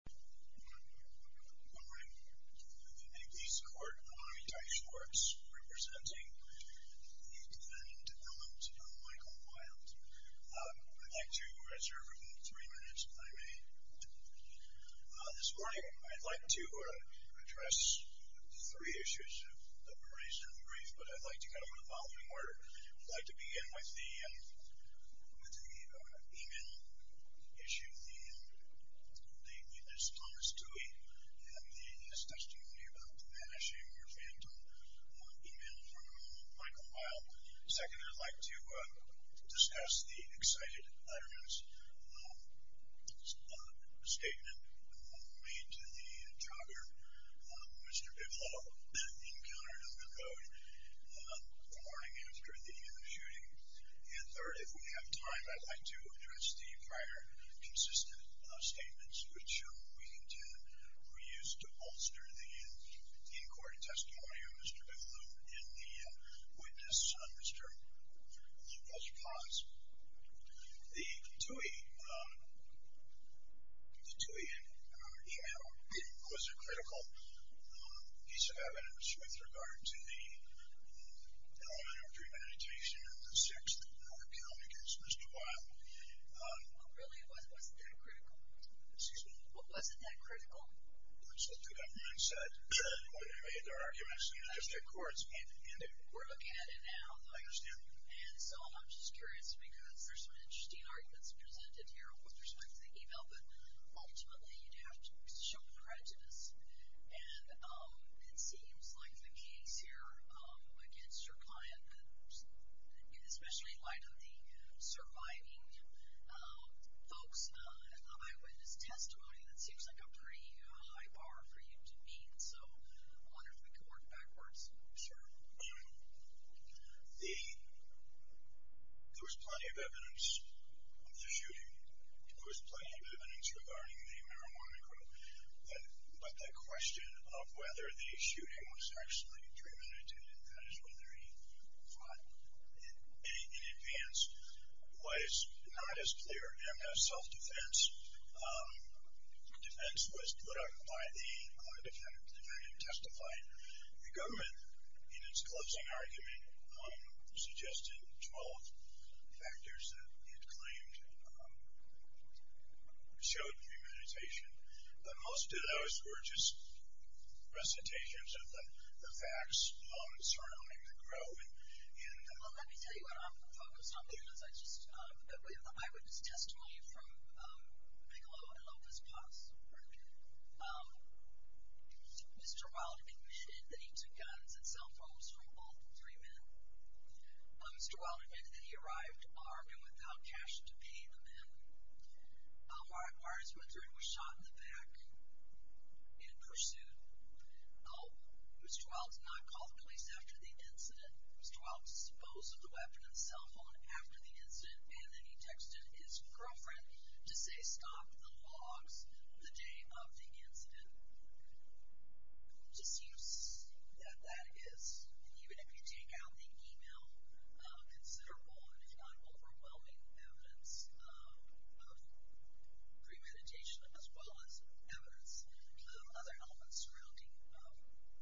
Good morning. I'm in the East Court on the Miami-Dade Shores, representing the defendant, Mr. Mikal Wilde. I'd like to reserve three minutes, if I may. This morning, I'd like to address three issues that were raised in the brief, but I'd like to kind of go in the with the email issue. The witness, Thomas Dewey, has discussed to me about banishing your phantom email from Mikal Wilde. Second, I'd like to discuss the excited letterman's statement made to the jogger, Mr. Biblow, encountered on the road the morning after the shooting. And third, if we have time, I'd like to address the prior consistent statements which we intend to use to bolster the in-court testimony of Mr. Biblow and the witness, Mr. Walter Potts. The Dewey email was a critical piece of evidence with regard to the element of premeditation and the sex that would come against Mr. Wilde. What really was that critical? Excuse me? What wasn't that critical? Which the two defendants said when they made their arguments in the district courts. We're looking at it now. I understand. And so I'm just curious, because there's some interesting arguments presented here with respect to the email, but ultimately, you'd have to show prejudice. And it seems like the case here against your client, especially in light of the surviving folks, the eyewitness testimony, that seems like a pretty high bar for you to meet. So I wonder if we could work backwards. Sure. There was plenty of evidence of the shooting. There was plenty of evidence regarding the marijuana quote. But the question of whether the shooting was actually premeditated, that is whether he fought in advance, was not as clear. MS self-defense was put up by the defendant to testify. The government, in its closing argument, suggested 12 factors that it claimed showed premeditation. But most of those were just recitations of the facts surrounding the groin. Well, let me tell you what I'm focused on, because I just, we have the eyewitness testimony from Bigelow and Lopez-Paz. Mr. Wilde admitted that he took guns and cell phones from all three men. Mr. Wilde admitted that he arrived armed and without cash to pay the men. Mars Winthrop was shot in the back in pursuit. Mr. Wilde did not call the police after the incident. Mr. Wilde disposed of the weapon and cell phone after the incident, and then he texted his girlfriend to say, stop the logs the day of the incident. It just seems that that is, even if you take out the email, considerable and if not overwhelming evidence of premeditation, as well as evidence of other elements surrounding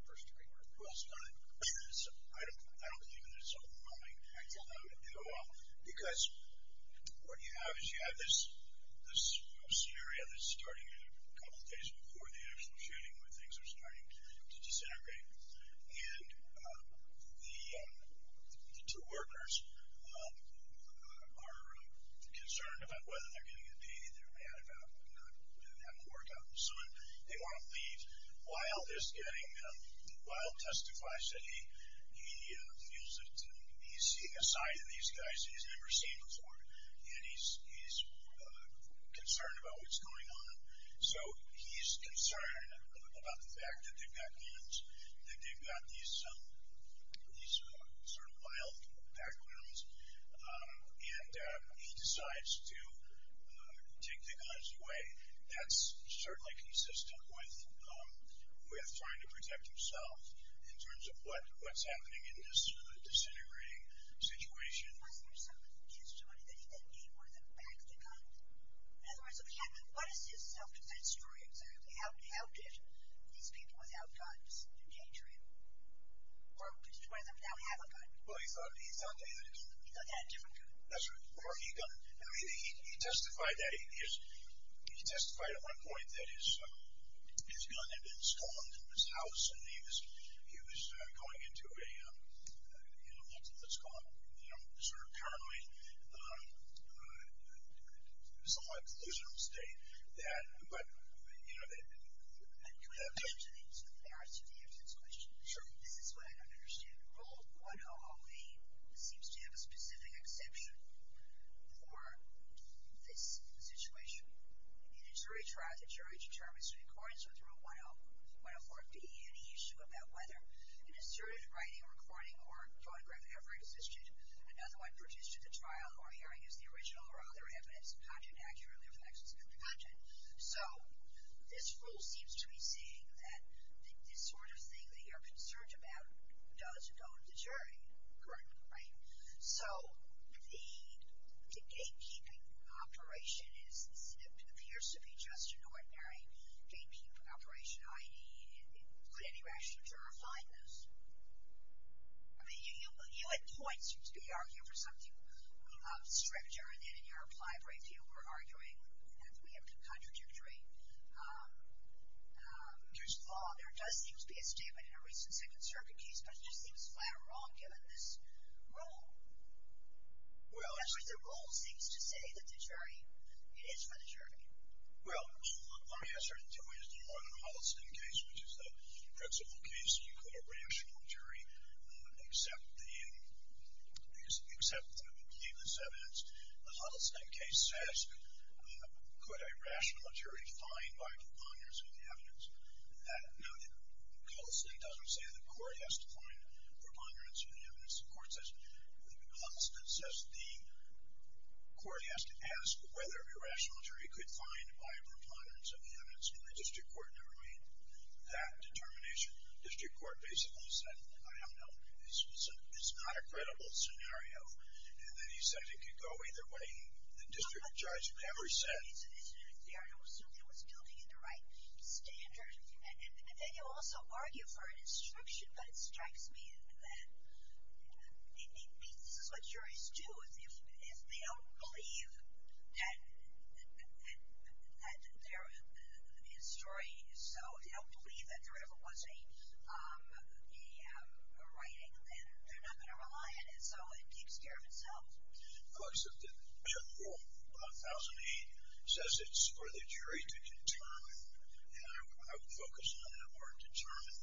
first degree murder. Well, I don't believe that it's overwhelming, because what you have is you have this scenario that's starting a couple of days before the actual shooting where things are starting to disintegrate, and the two workers are concerned about whether they're going to get paid. They're mad about not having a workout. So they want to leave. Wilde is getting, Wilde testifies that he feels that he's seeing a side of these guys that he's never seen before, and he's concerned about what's going on. So he's concerned about the fact that they've got guns, that they've got these sort of wild backgrounds, and he decides to take the guns away. That's certainly consistent with trying to protect himself in terms of what's happening in this case. In other words, what is his self-defense story exactly? How did these people without guns endanger him? Or did one of them not have a gun? Well, he thought that he had a gun. He thought he had a different gun. That's right. Or he had a gun. He testified at one point that his gun had been stolen from his house, and he was going into a, you know, what's called, you know, sort of currently somewhat delusional state. But, you know, that... Can I add something to the arts of the arts of this question? Sure. This is what I don't understand. Rule 1008 seems to have a specific exception for this or be any issue about whether an asserted writing, recording, or photograph ever existed. Another one, produced at the trial, or hearing as the original, or other evidence, content accurately reflects content. So this rule seems to be saying that this sort of thing that you're concerned about doesn't go to the jury. Correct. Right? So the gatekeeping operation appears to be just an ordinary gatekeeping operation. I mean, could any rational juror find this? I mean, you at points seem to be arguing for something stricter than in your applied review we're arguing that we have been contradictory. There's thought, there does seem to be a statement in a recent Second Circuit case, but it just seems flat wrong given this rule. Well... That's what the rule seems to say, that the jury, it is for the jury. Well, let me answer it in two ways. One, in the Huddleston case, which is the principal case, you could have a rational jury accept the nameless evidence. The Huddleston case says, could a rational jury find by preponderance of the evidence? Now, Huddleston doesn't say the court has to find preponderance of the evidence. The court says, Huddleston says the court has to ask whether a rational jury could find by preponderance of the evidence, and the district court never made that determination. The district court basically said, I don't know. It's not a credible scenario. And then he said it could go either way. The district judge never said. I don't think it's an incident theory. I don't assume it was building in the right standards. And you also argue for an instruction, but it strikes me that it means this is what juries do. If they don't believe that there is story, so if they don't believe that there ever was a writing, then they're not going to rely on it. So it takes care of itself. Huddleston rule 1008 says it's for the jury to determine. And I would focus on the word determine.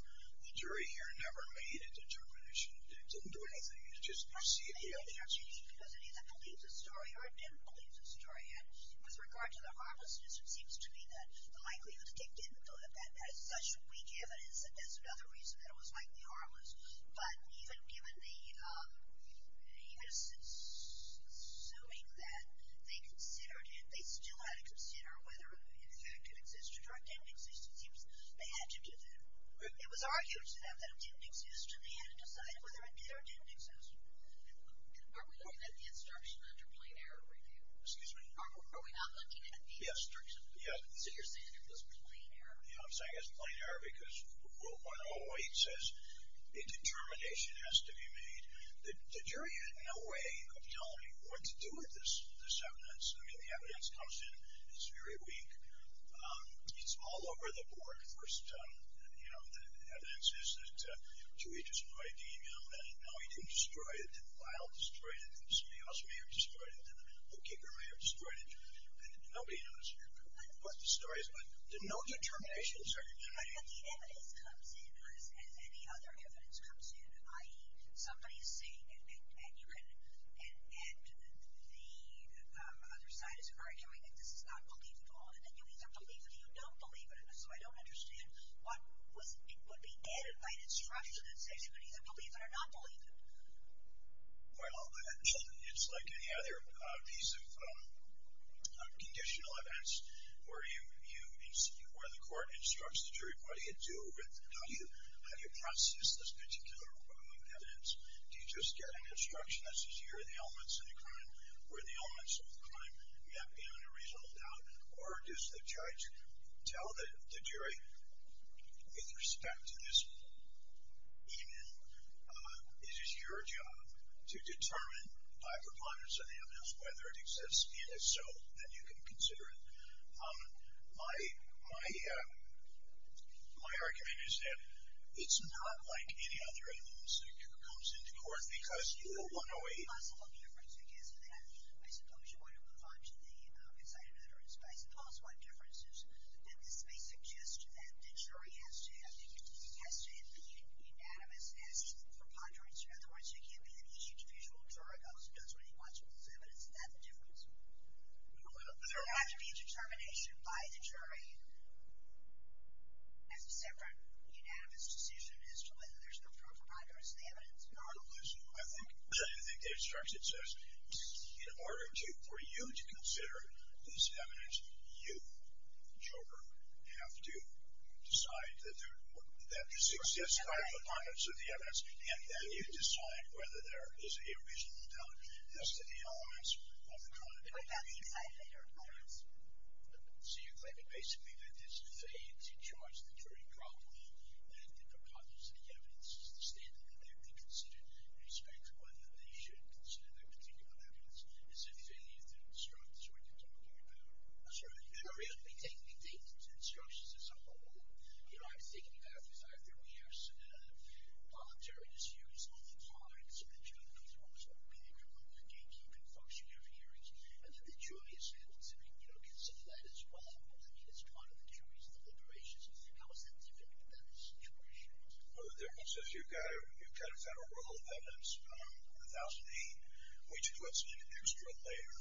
The jury here never made a determination. It didn't do anything. It either believes a story or it didn't believe the story. And with regard to the harmlessness, it seems to me that the likelihood that it did was such weak evidence that that's another reason that it was likely harmless. But even assuming that, they still had to consider whether, in fact, it existed or didn't exist. It was argued to them that it didn't exist, so it seems to me they had to decide whether it did or didn't exist. Are we looking at the instruction under plain error review? Excuse me? Are we not looking at the instruction? Yes. So you're saying it was plain error? Yeah, I'm saying it was plain error because 1008 says a determination has to be made. The jury had no way of telling what to do with this evidence. I mean, the evidence comes in. It's very weak. It's all over the board. The evidence is that two agents of ID, you know, and no, he didn't destroy it. The file destroyed it. Somebody else may have destroyed it. The bookkeeper may have destroyed it. Nobody knows what the story is, but there's no determination. The evidence comes in as any other evidence comes in, i.e., somebody is saying and the other side is arguing that this is not believable and then you either believe it or you don't believe it and so I don't understand what would be added by an instruction that says you can either believe it or not believe it. Well, it's like any other piece of conditional evidence where the court instructs the jury what do you do with, how do you process this particular evidence? Do you just get an instruction that says here are the elements of the crime, where the elements of the crime may have been in a reasonable doubt, or does the judge tell the jury, with respect to this evidence, it is your job to determine by preponderance of the evidence whether it exists and if so, then you can consider it. My argument is that it's not like any other evidence that comes into court because I suppose you want to move on to the incited utterance, but I suppose one difference is that this may suggest that the jury has to be unanimous as to the preponderance. In other words, it can't be that each individual juror goes and does what he wants with this evidence, and that's the difference. There would have to be a determination by the jury as a separate unanimous decision as to whether there's no preponderance I think the instruction says in order for you to consider this evidence, you, the juror, have to decide that there exists five components of the evidence, and then you decide whether there is a reasonable doubt as to the elements of the crime that may have been found in your evidence. So you're claiming basically that this fades, that the preponderance of the evidence is the standard that they have to consider in respect of whether they should consider that particular evidence, as if any of the instructions are what you're talking about. The instructions are somewhat wrong. You know, I've taken you back to the fact that we have voluntary disuse all the time, so the jury is always going to be there for you if you can function your hearings, and that the jury is going to consider that as well. It's part of the jury's deliberations. How is that different from that of the jurors? Well, the difference is you've got a federal rule of evidence, 1008, which puts an extra layer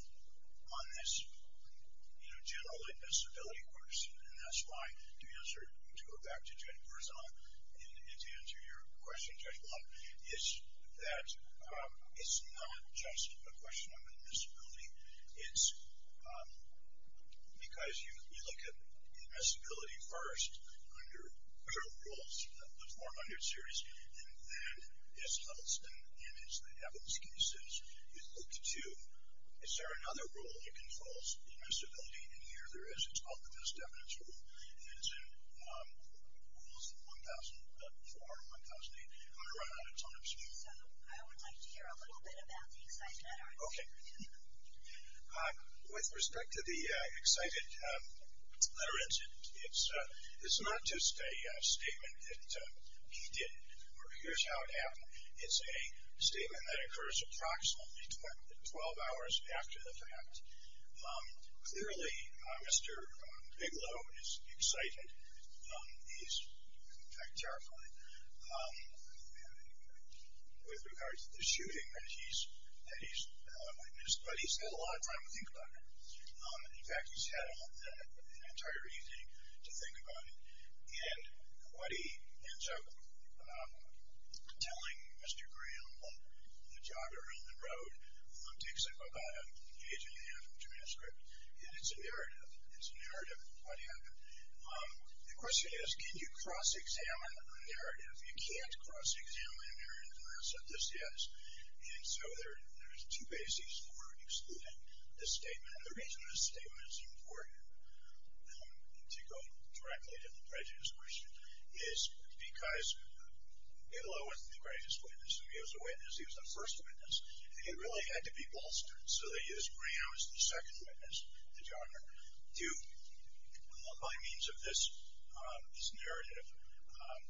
on this, you know, general admissibility question, and that's why to answer, to go back to Judge Marzano and to answer your question, Judge Blount, is that it's not just a question of admissibility. It's because you look at admissibility first under federal rules, the 400 series, and then it's the evidence cases. You look to, is there another rule that controls admissibility, and here there is. It's called the best evidence rule, and it's in rules 1004 and 1008, and it runs out of time. So I would like to hear a little bit about the excitement Okay. With respect to the excited literate, it's not just a statement that he did or here's how it happened. It's a statement that occurs approximately 12 hours after the fact. Clearly, Mr. Bigelow is excited. He's, in fact, terrified. With regards to the shooting that he's witnessed, but he's had a lot of time to think about it. In fact, he's had an entire evening to think about it, and what he ends up telling Mr. Graham on the jog around the road takes up about an age and a half of a transcript, and it's a narrative. It's a narrative of what happened. The question is, can you cross-examine a narrative? You can't cross-examine a narrative and say this is, and so there's two bases for excluding this statement, and the reason this statement is important to go directly to the prejudice question is because Bigelow wasn't the greatest witness. He was a witness. He was the first witness, and he really had to be bolstered, so they used Graham as the second witness at the jogger to, by means of this narrative, have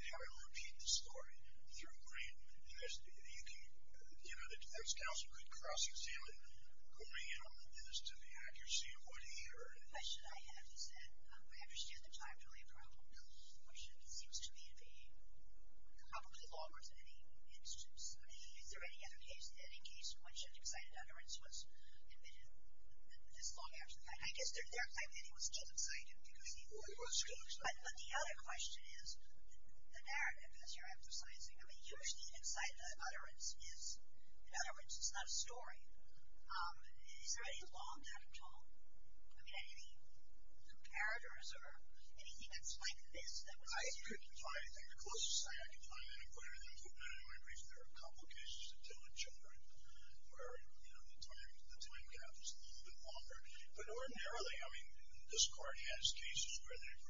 him repeat the story through Graham. You know, the defense counsel could cross-examine Graham as to the accuracy of what he heard. The question I have is that I understand that time is really a problem. One shift seems to be probably longer than any instance. Is there any other case that in case one shift excited utterance was admitted this long after the fact? I guess there are times when he was still excited. He was still excited. But the other question is, the narrative that you're emphasizing, I mean, usually inside the utterance is, in other words, it's not a story. Is there any law in that at all? I mean, any comparators or anything that's like this? I couldn't find anything. The closest thing I could find, and I'm quite aware of that, there are a couple of cases that deal with children where, you know, the time gap is a little bit longer. But ordinarily, I mean, this court has cases where they've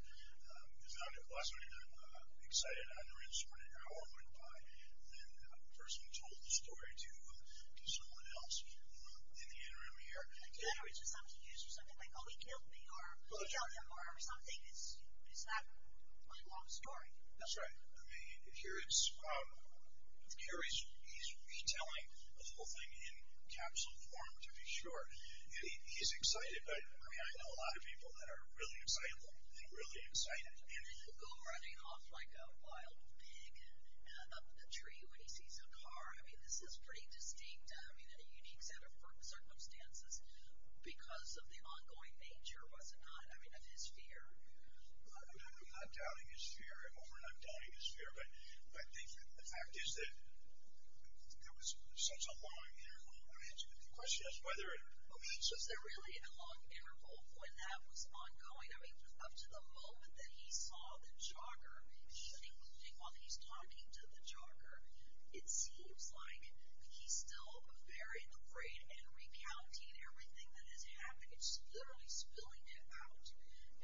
found it pleasant and excited utterance when an hour went by and that person told the story to someone else in the interim here. In other words, it's not to use for something like, oh, he killed me, or he killed him, or something. It's not quite a long story. That's right. I mean, here he's retelling the whole thing in capsule form, to be sure. And he's excited, but, I mean, I know a lot of people that are really excited. They're really excited. And then, oh, running off like a wild pig up a tree when he sees a car. I mean, this is pretty distinct, I mean, in a unique set of circumstances because of the ongoing nature, was it not, I mean, of his fear. I'm not doubting his fear. I'm overnight doubting his fear. But I think the fact is that there was such a long interval. The question is whether it was. Was there really a long interval when that was ongoing? I mean, up to the moment that he saw the jogger, including while he's talking to the jogger, it seems like he's still very afraid and recounting everything that has happened. It's literally spilling out.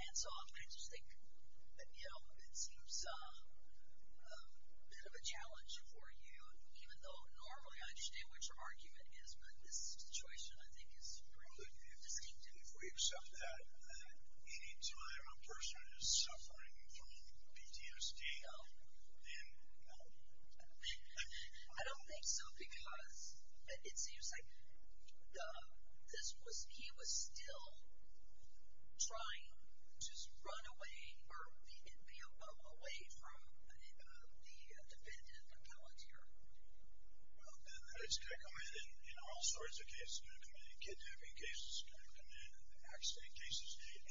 And so I just think, you know, it seems a bit of a challenge for you, even though normally I understand what your argument is, but this situation, I think, is pretty distinct. If we accept that any time a person is suffering from PTSD, then, you know. I don't think so, because it seems like he was still trying to run away, or the NPO, away from the defendant and the palantir. Well, and it's going to come in in all sorts of cases. It's going to come in in kidnapping cases. It's going to come in in accident cases.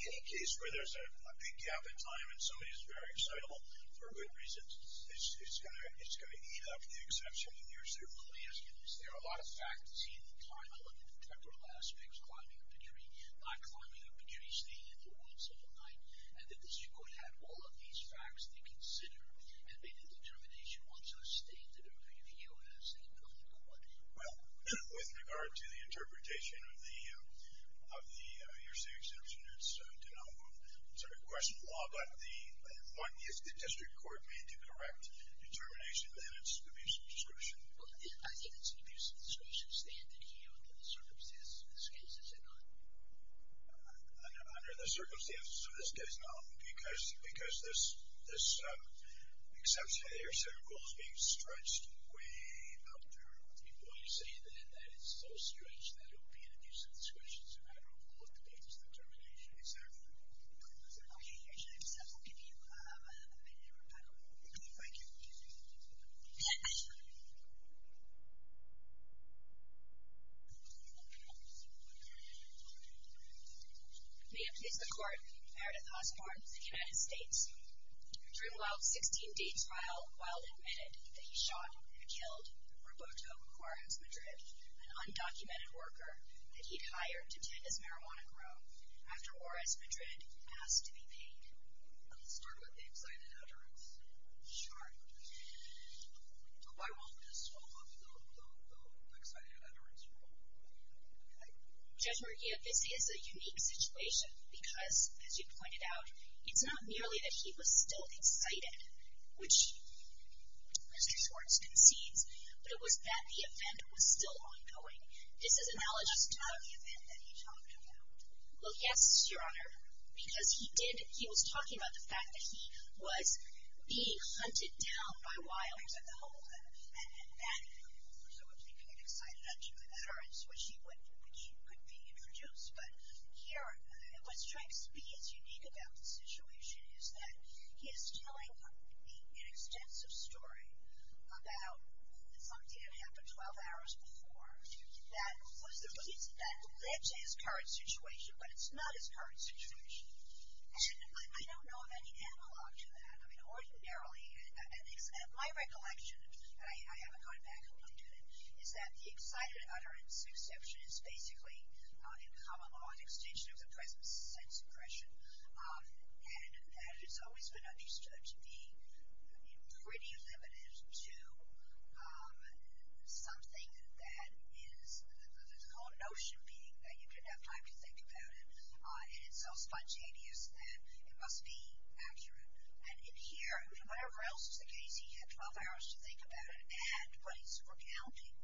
Any case where there's a big gap in time and somebody is very excitable for good reasons, it's going to eat up the exception. Let me ask you this. There are a lot of facts in the time on the temporal aspects, climbing up a tree, not climbing up a tree, staying in the woods all night, and that the district court had all of these facts to consider and made a determination once it was stated over to the U.S. that it would go to court. Well, with regard to the interpretation of the hearsay exception, it's a question of law, but the district court made the correct determination that it's an abuse of discretion. Well, I think it's an abuse of discretion standard here under the circumstances. Excuse me, is it not? Under the circumstances, so this case, no, because this exception to the hearsay rule is being stretched way out there. Well, you're saying then that it's so stretched that it would be an abuse of discretion, so I don't believe the case determination is there. Okay, your time is up. We'll give you a minute or two. Thank you. May it please the Court. Meredith Osborne, United States. Drimwell, 16 days while admitted that he shot and killed Roberto Juarez Madrid, an undocumented worker that he'd hired to tend his marijuana grow, after Juarez Madrid asked to be paid. I'll start with the excited utterance. Sure. I won't miss all of the excited utterance. Judge McGee, this is a unique situation because, as you pointed out, it's not merely that he was still excited, which Mr. Schwartz concedes, but it was that the event was still ongoing. This is analogous to the event that he talked about. Well, yes, Your Honor, because he did, he was talking about the fact that he was being hunted down by wildfires at the home, and that, of course, I would think an excited utterance, which he couldn't be introduced, but here, what's trying to be as unique about the situation is that he is telling an extensive story about something that happened 12 hours before that led to his current situation, but it's not his current situation. And I don't know of any analog to that. I mean, ordinarily, my recollection, and I haven't gone back on it yet, is that the excited utterance exception is basically in common law an extension of the present sense impression, and that has always been understood to be pretty limited to something that is, the whole notion being that you didn't have time to think about it, and it's so spontaneous that it must be accurate. And in here, whatever else is the case, he had 12 hours to think about it, and what he's recounting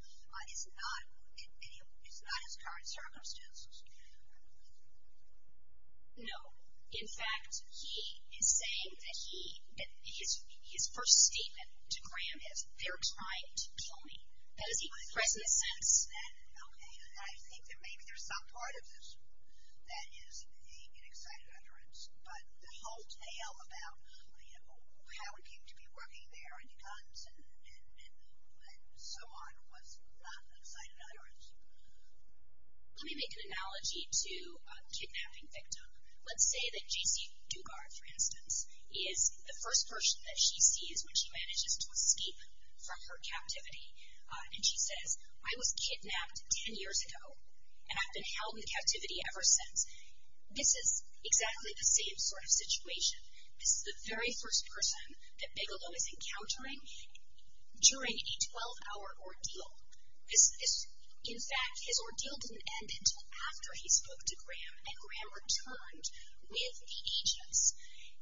is not his current circumstances. No. In fact, he is saying that his first statement to Graham is, they're trying to kill me. That is the present sense. Okay. I think that maybe there's some part of this that is an excited utterance, but the whole tale about Howard came to be working there and guns and so on was not an excited utterance. Let me make an analogy to a kidnapping victim. Let's say that J.C. Dugard, for instance, is the first person that she sees when she manages to escape from her captivity, and she says, I was kidnapped 10 years ago, and I've been held in captivity ever since. This is exactly the same sort of situation. This is the very first person that Bigelow is encountering during a 12-hour ordeal. In fact, his ordeal didn't end until after he spoke to Graham, and Graham returned with the agents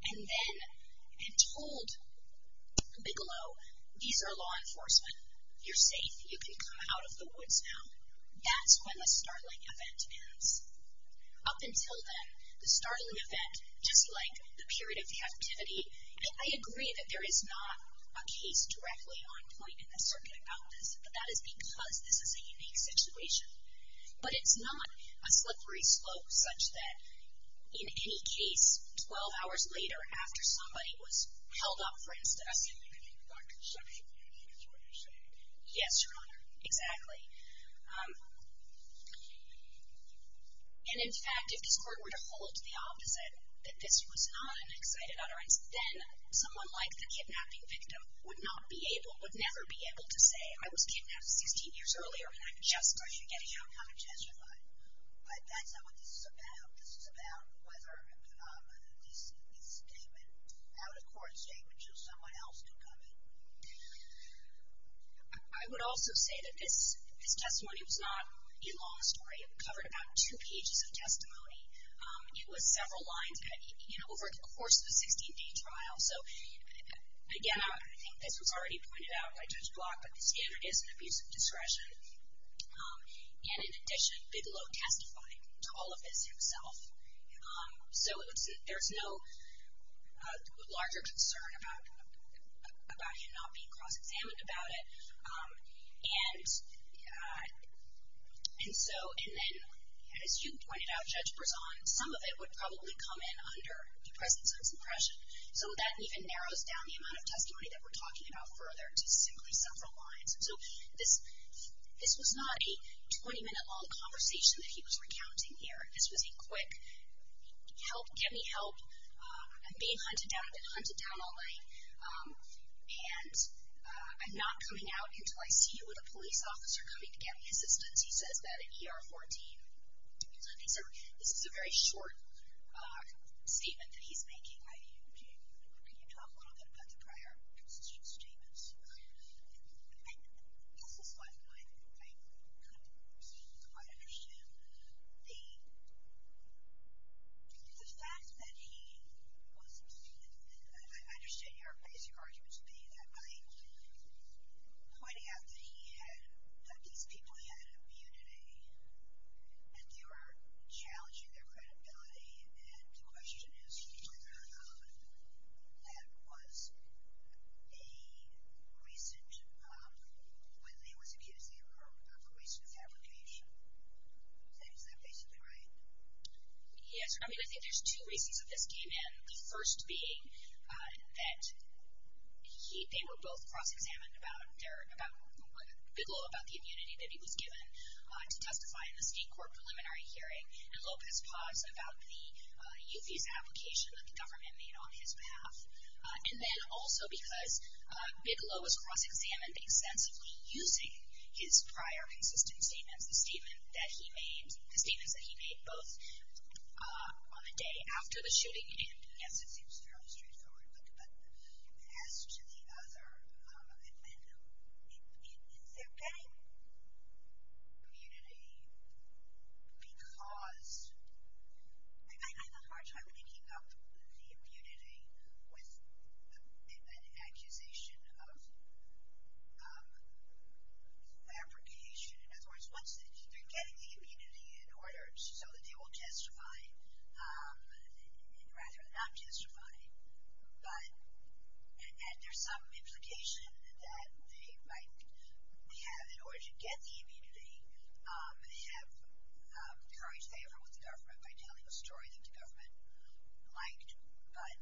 and then had told Bigelow, these are law enforcement. You're safe. You can come out of the woods now. That's when the startling event ends. Up until then, the startling event, just like the period of captivity, I agree that there is not a case directly on point in the circuit about this, but that is because this is a unique situation. But it's not a slippery slope such that in any case, 12 hours later after somebody was held up, for instance. Yes, Your Honor, exactly. And in fact, if this court were to hold the opposite, that this was not an excited utterance, then someone like the kidnapping victim would not be able, would never be able to say I was kidnapped 16 years earlier when I'm just starting to get a hang of how to testify. But that's not what this is about. This is about whether this statement, how the court's statement shows someone else can come in. I would also say that this testimony was not a long story. It covered about two pages of testimony. It was several lines over the course of a 16-day trial. So again, I think this was already pointed out by Judge Block, but the standard is an abuse of discretion. And in addition, Bigelow testified to all of this himself. So there's no larger concern about him not being cross-examined about it. And so, and then, as you pointed out, Judge Berzon, some of it would probably come in under the presence of suppression. Some of that even narrows down the amount of testimony that we're talking about further to simply several lines. And so this was not a 20-minute long conversation that he was recounting here. This was a quick, help, get me help. I'm being hunted down. I've been hunted down all night. And I'm not coming out until I see you with a police officer coming to get me assistance. He says that in ER 14. So this is a very short statement that he's making. Can you talk a little bit about the prior constitutional statements? This is what I kind of understood. The fact that he was, I understand your basic argument to be that by pointing out that he had, that these people had immunity and they were challenging their credibility. And the question is whether that was a recent, when he was accused of a recent fabrication. Is that basically right? Yes. I mean, I think there's two reasons that this came in. The first being that they were both cross-examined about Bigelow, about the immunity that he was given to testify in the state court preliminary hearing. And Lopez-Paz about the youth visa application that the government made on his behalf. And then also because Bigelow was cross-examined extensively using his prior consistent statements, the statement that he made, the statements that he made both on the day after the shooting. Yes, it seems fairly straightforward. But as to the other amendment, is there any immunity because, I have a hard time picking up the immunity with an accusation of fabrication. In other words, once they're getting the immunity in order so that they will testify, and rather not testify, but, and there's some implication that they might have, in order to get the immunity, they have the courage to favor with the government by telling a story that the government liked. But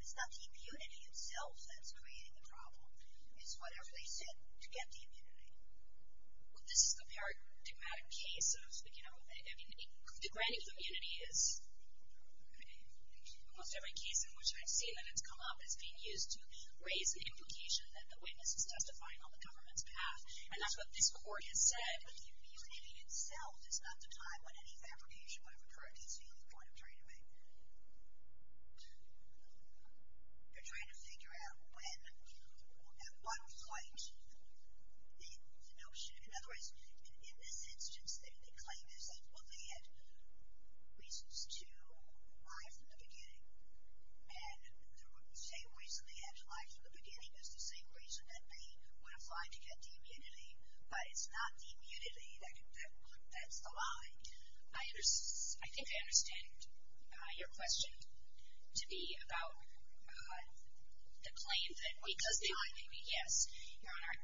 it's not the immunity itself that's creating the problem. It's whatever they said to get the immunity. Well, this is the paradigmatic case of, you know, I mean, the granting of immunity is, in most every case in which I've seen that it's come up, it's being used to raise the implication that the witness is testifying on the government's behalf. And that's what this court has said. But the immunity itself is not the time when any fabrication would have occurred, is the only point I'm trying to make. You're trying to figure out when, at what point, in the notion, in other words, in this instance, the claim is that, well, they had reasons to lie from the beginning. And the same reason they had to lie from the beginning is the same reason that they would have tried to get the immunity. But it's not the immunity that's the lie. I think I understand your question to be about the claim that because they had the immunity, yes, Your Honor,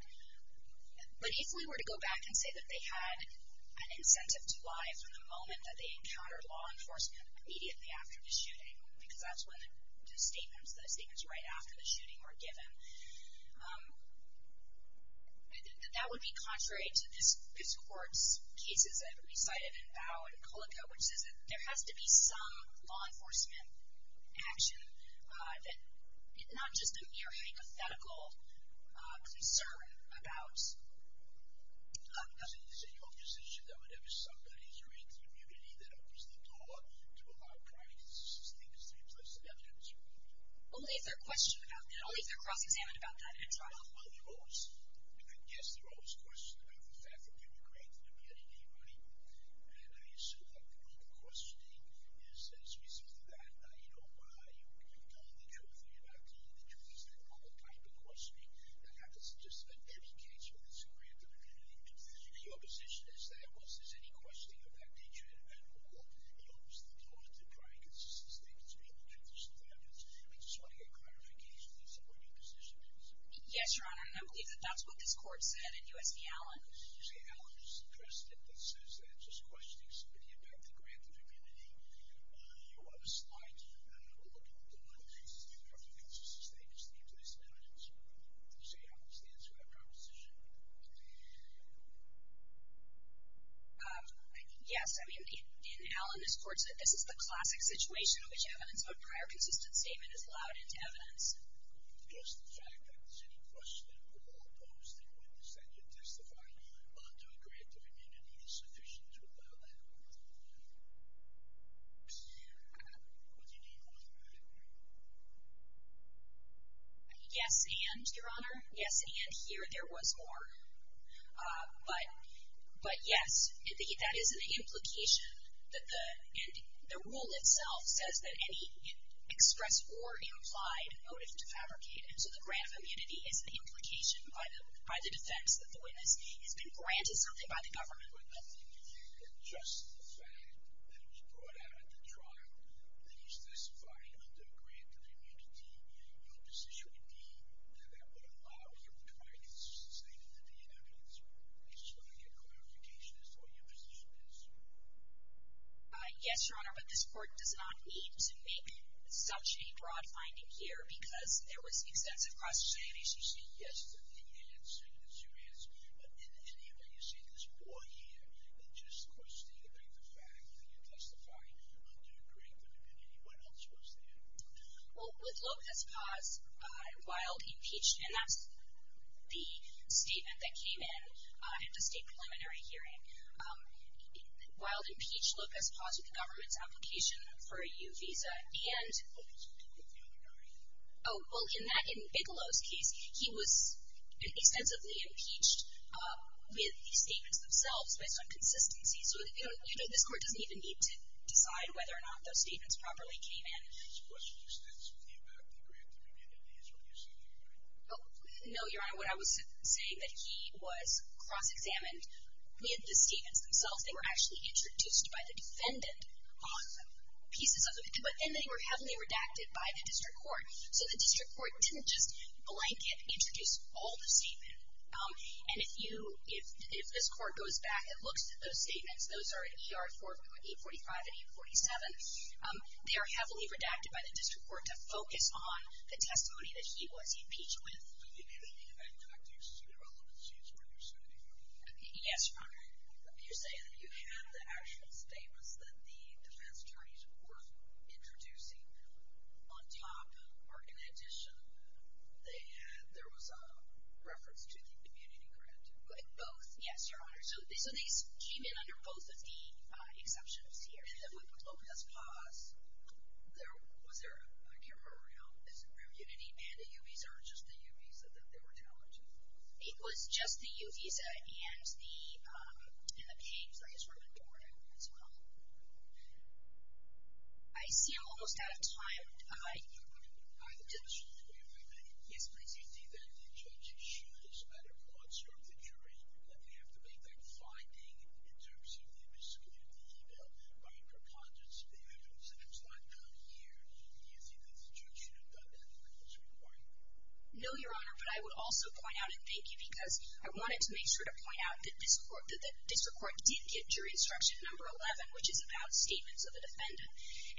but if we were to go back and say that they had an incentive to lie from the moment that they encountered law enforcement immediately after the shooting, because that's when the statements right after the shooting were given, I think that that would be contrary to this court's cases that have been cited in Bow and Colico, which says that there has to be some law enforcement action, not just a mere hypothetical concern about. Is it your position that whenever somebody creates immunity, that opens the door to a high price? Do you think it's to replace the evidence? Only if they're cross-examined about that in trial. Well, I guess there are always questions about the fact that you were great at getting anybody. And I assume that the only questioning is as a result of that, you know, why you don't think everything about the truth. Is that the only type of questioning that happens? Just in every case where there's a grant of immunity, is your position is that once there's any questioning of that nature in a matter of law, it opens the door to prior consensus statements or even transitional evidence? I just want to get clarification as to what your position is. Yes, Your Honor, and I believe that that's what this court said in U.S. v. Allen. You see, Allen is the precedent that says that just questioning somebody about the grant of immunity, you want a slight look into whether there's consensus statements to replace evidence. Do you see how this stands for that proposition? Yes. I mean, in Allen, this court said this is the classic situation in which evidence of a prior consistent statement is allowed into evidence. Just the fact that there's any questioning of a law posting witness that you're testifying under a grant of immunity is sufficient to allow that? What do you mean by that? Yes, and, Your Honor, yes, and here there was more. But yes, that is an implication that the rule itself says that any express or implied motive to fabricate, and so the grant of immunity is an implication by the defense that the witness has been granted something by the government. But nothing to do with just the fact that it was brought out at the trial that he's testifying under a grant of immunity. Your position would be that that would allow him to write his statement into the evidence. I just want to get clarification as to what your position is. Yes, Your Honor, but this court does not need to make such a broad finding here because there was extensive cross-examination. Yes, you say yes to the answer. It's your answer. But in any event, you say there's more here than just questioning about the fact that you're testifying under a grant of immunity. What else was there? Well, with Lopez Paz, Wilde impeached, and that's the statement that came in at the state preliminary hearing. Wilde impeached Lopez Paz with the government's application for a U visa. Lopez Paz, the other guy. Oh, well, in Bigelow's case, he was extensively impeached with the statements themselves based on consistency. So, you know, this court doesn't even need to decide whether or not those statements properly came in. His questions extensively about the grant of immunity is what you're saying, Your Honor? No, Your Honor, what I was saying, that he was cross-examined with the statements themselves. They were actually introduced by the defendant on pieces of it, but then they were heavily redacted by the district court, so the district court didn't just blanket introduce all the statements. And if you, if this court goes back and looks at those statements, those are 845 and 847, they are heavily redacted by the district court to focus on the testimony that he was impeached with. In any event, I'd like to see the relevance of what you're saying. Yes, Your Honor. You're saying that you have the actual statements that the defense attorneys were introducing. On top, or in addition, they had, there was a reference to the immunity grant. Both, yes, Your Honor. So, these came in under both of the exceptions here. And then we put Lopez-Paz. Was there a camera around his immunity and a U-Visa, or just the U-Visa that they were telling you? It was just the U-Visa and the, and the page that he was reported on as well. I see I'm almost out of time. I just. I have a question for you, if I may. Yes, please. Do you think that the judge should, as a matter of law, serve the jury that we have to make that finding in terms of the miscommunication by a preponderance of the evidence, and it's not done here? Do you think that the judge should have done that when it was required? No, Your Honor. But I would also point out, and thank you, because I wanted to make sure to point out that this court, that the district court did get jury instruction number 11, which is about statements of the defendant.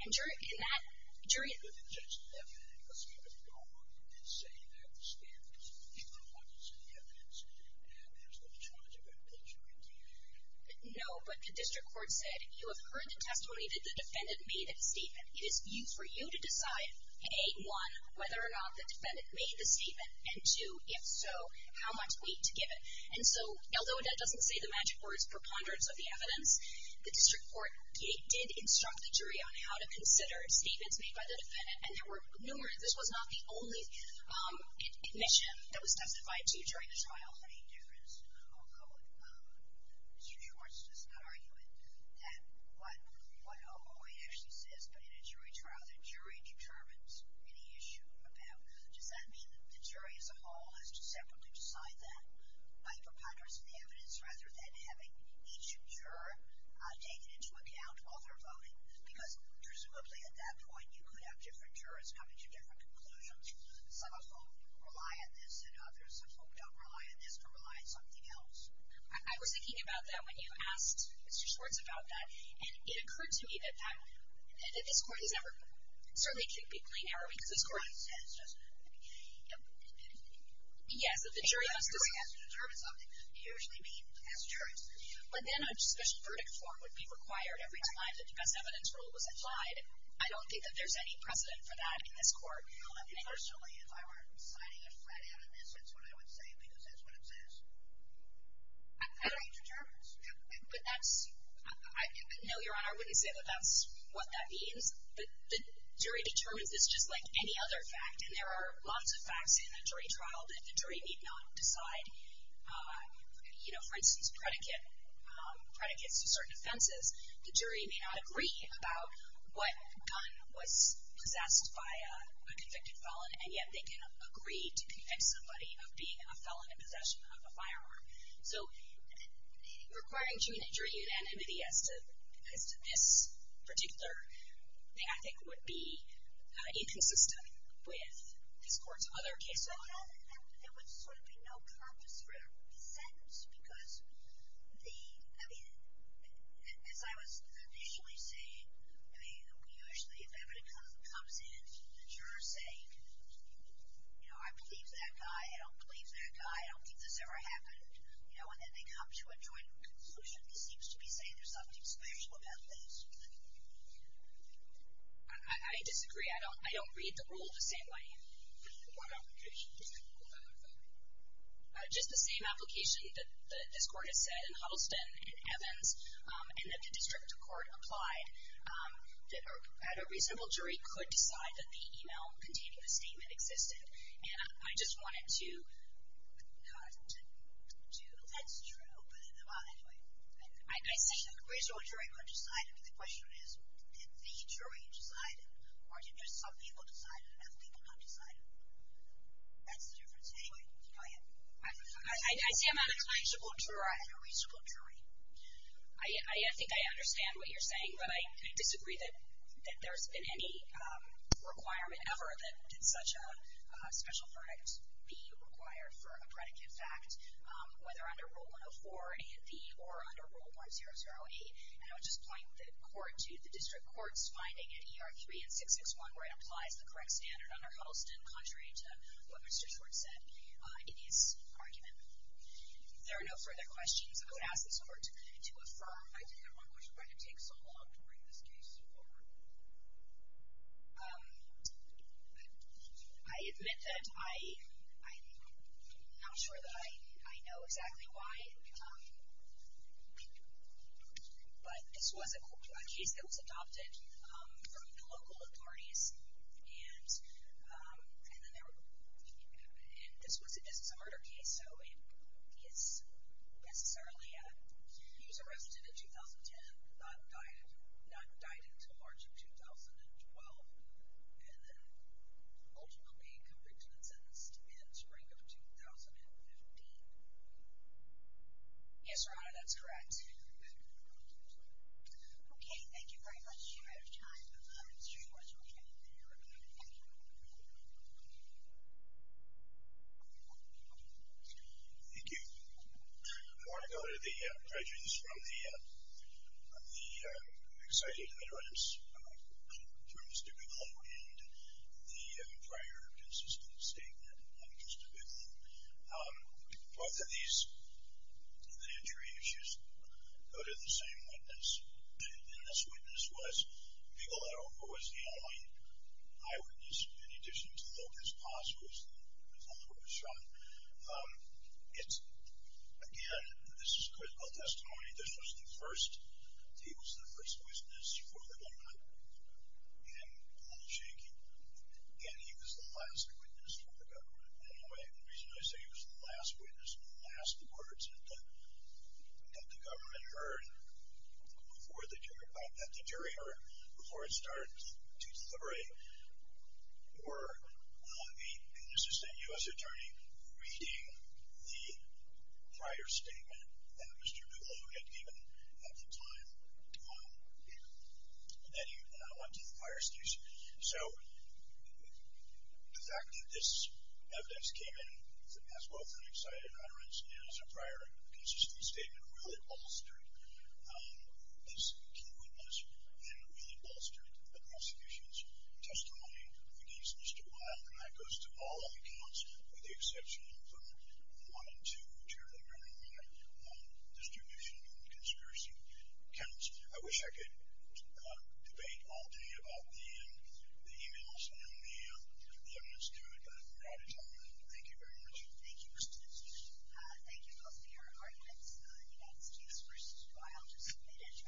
And jury, in that, jury. But the judge didn't have anything to say. If you don't want to say you have the statements, you don't want to say you have the evidence, and you don't have anything to charge about the jury, do you? No, but the district court said, you have heard the testimony that the defendant made in the statement. It is for you to decide, A, one, whether or not the defendant made the statement, and two, if so, how much weight to give it. And so, although that doesn't say the magic words, preponderance of the evidence, the district court did instruct the jury on how to consider statements made by the defendant. And there were numerous. This was not the only admission that was testified to during the trial. I don't know of any difference, although the district court's just not arguing, that one point actually says, but in a jury trial, the jury determines any issue about, does that mean that the jury as a whole has to separately decide that by preponderance of the evidence rather than having each juror taken into account while they're voting? Because presumably, at that point, you could have different jurors coming to different conclusions. Some of whom rely on this than others. Some of whom don't rely on this, but rely on something else. I was thinking about that when you asked Mr. Schwartz about that, and it occurred to me that that, that this court has never, certainly it can't be plain error because this court has just, yes, that the jury has to. A jury has to determine something. They usually meet as jurors. But then a special verdict form would be required every time that the best evidence rule was applied. I don't think that there's any precedent for that in this court. Personally, if I were signing a threat out of this, that's what I would say because that's what it says. The jury determines. But that's, no, Your Honor, I wouldn't say that that's what that means. But the jury determines this just like any other fact, and there are lots of facts in a jury trial that the jury need not decide. You know, for instance, predicates to certain offenses. The jury may not agree about what gun was possessed by a convicted felon, and yet they can agree to convict somebody of being a felon in possession of a firearm. So requiring jury unanimity as to this particular pathic would be inconsistent with this court's other cases. So there would sort of be no purpose for the sentence because the, I mean, as I was initially saying, I mean, usually if evidence comes in, the jurors say, you know, I believe that guy, I don't believe that guy, I don't think this ever happened, you know, and then they come to a joint conclusion that seems to be saying there's something special about this. I disagree. I don't read the rule the same way. Just the same application that this court has said in Huddleston and Evans and that the district court applied that a reasonable jury could decide that the email containing the statement existed. And I just wanted to not to do that. That's true. But anyway. I say a reasonable jury could decide it, but the question is did the jury decide it or did just some people decide it and other people not decide it? That's the difference. Anyway, go ahead. I say a reasonable jury. I think I understand what you're saying, but I disagree that there's been any requirement ever that such a special verdict be required for a predicate fact, whether under Rule 104B or under Rule 100A. And I would just point the court to the district court's finding in ER 3 and 661 where it applies the correct standard under Huddleston, contrary to what Mr. Schwartz said in his argument. If there are no further questions, I would ask the court to affirm. I think that one question might have taken so long to bring this case forward. I admit that I'm not sure that I know exactly why, but this was a case that was adopted from the local authorities, and this was a murder case, so it's necessarily he was arrested in 2010, not died until March of 2012, and then ultimately convicted and sentenced in spring of 2015. Yes, Your Honor, that's correct. Okay, thank you very much. Mr. Schwartz, would you like to be recommended? Thank you. Thank you. I want to go to the questions from the exciting iterants from Mr. McCullough and the prior consistent statement of Mr. Booth. Both of these, the injury issues, go to the same witness, and this witness was the only eyewitness, in addition to Lopez-Paz, who was the one who was shot. Again, this is critical testimony. This was the first witness for the woman and the shaking, and he was the last witness for the government. Anyway, the reason I say he was the last witness, the last words that the government heard before the jury heard, before it started to deliberate, were on the consistent U.S. attorney reading the prior statement that Mr. McCullough had given at the time, and I went to the prior statement. So the fact that this evidence came in as well from the excited iterants and as a prior consistent statement really bolstered this key witness and really bolstered the prosecution's testimony against Mr. Booth, and that goes to all of the accounts, with the exception of the one and two, which are the very minor distribution and conspiracy accounts. I wish I could debate all day about the e-mails and the evidence to it. I'm proud to tell you that. Thank you very much. Thank you, Mr. Judge. Thank you both for your arguments. And that's the first trial just completed.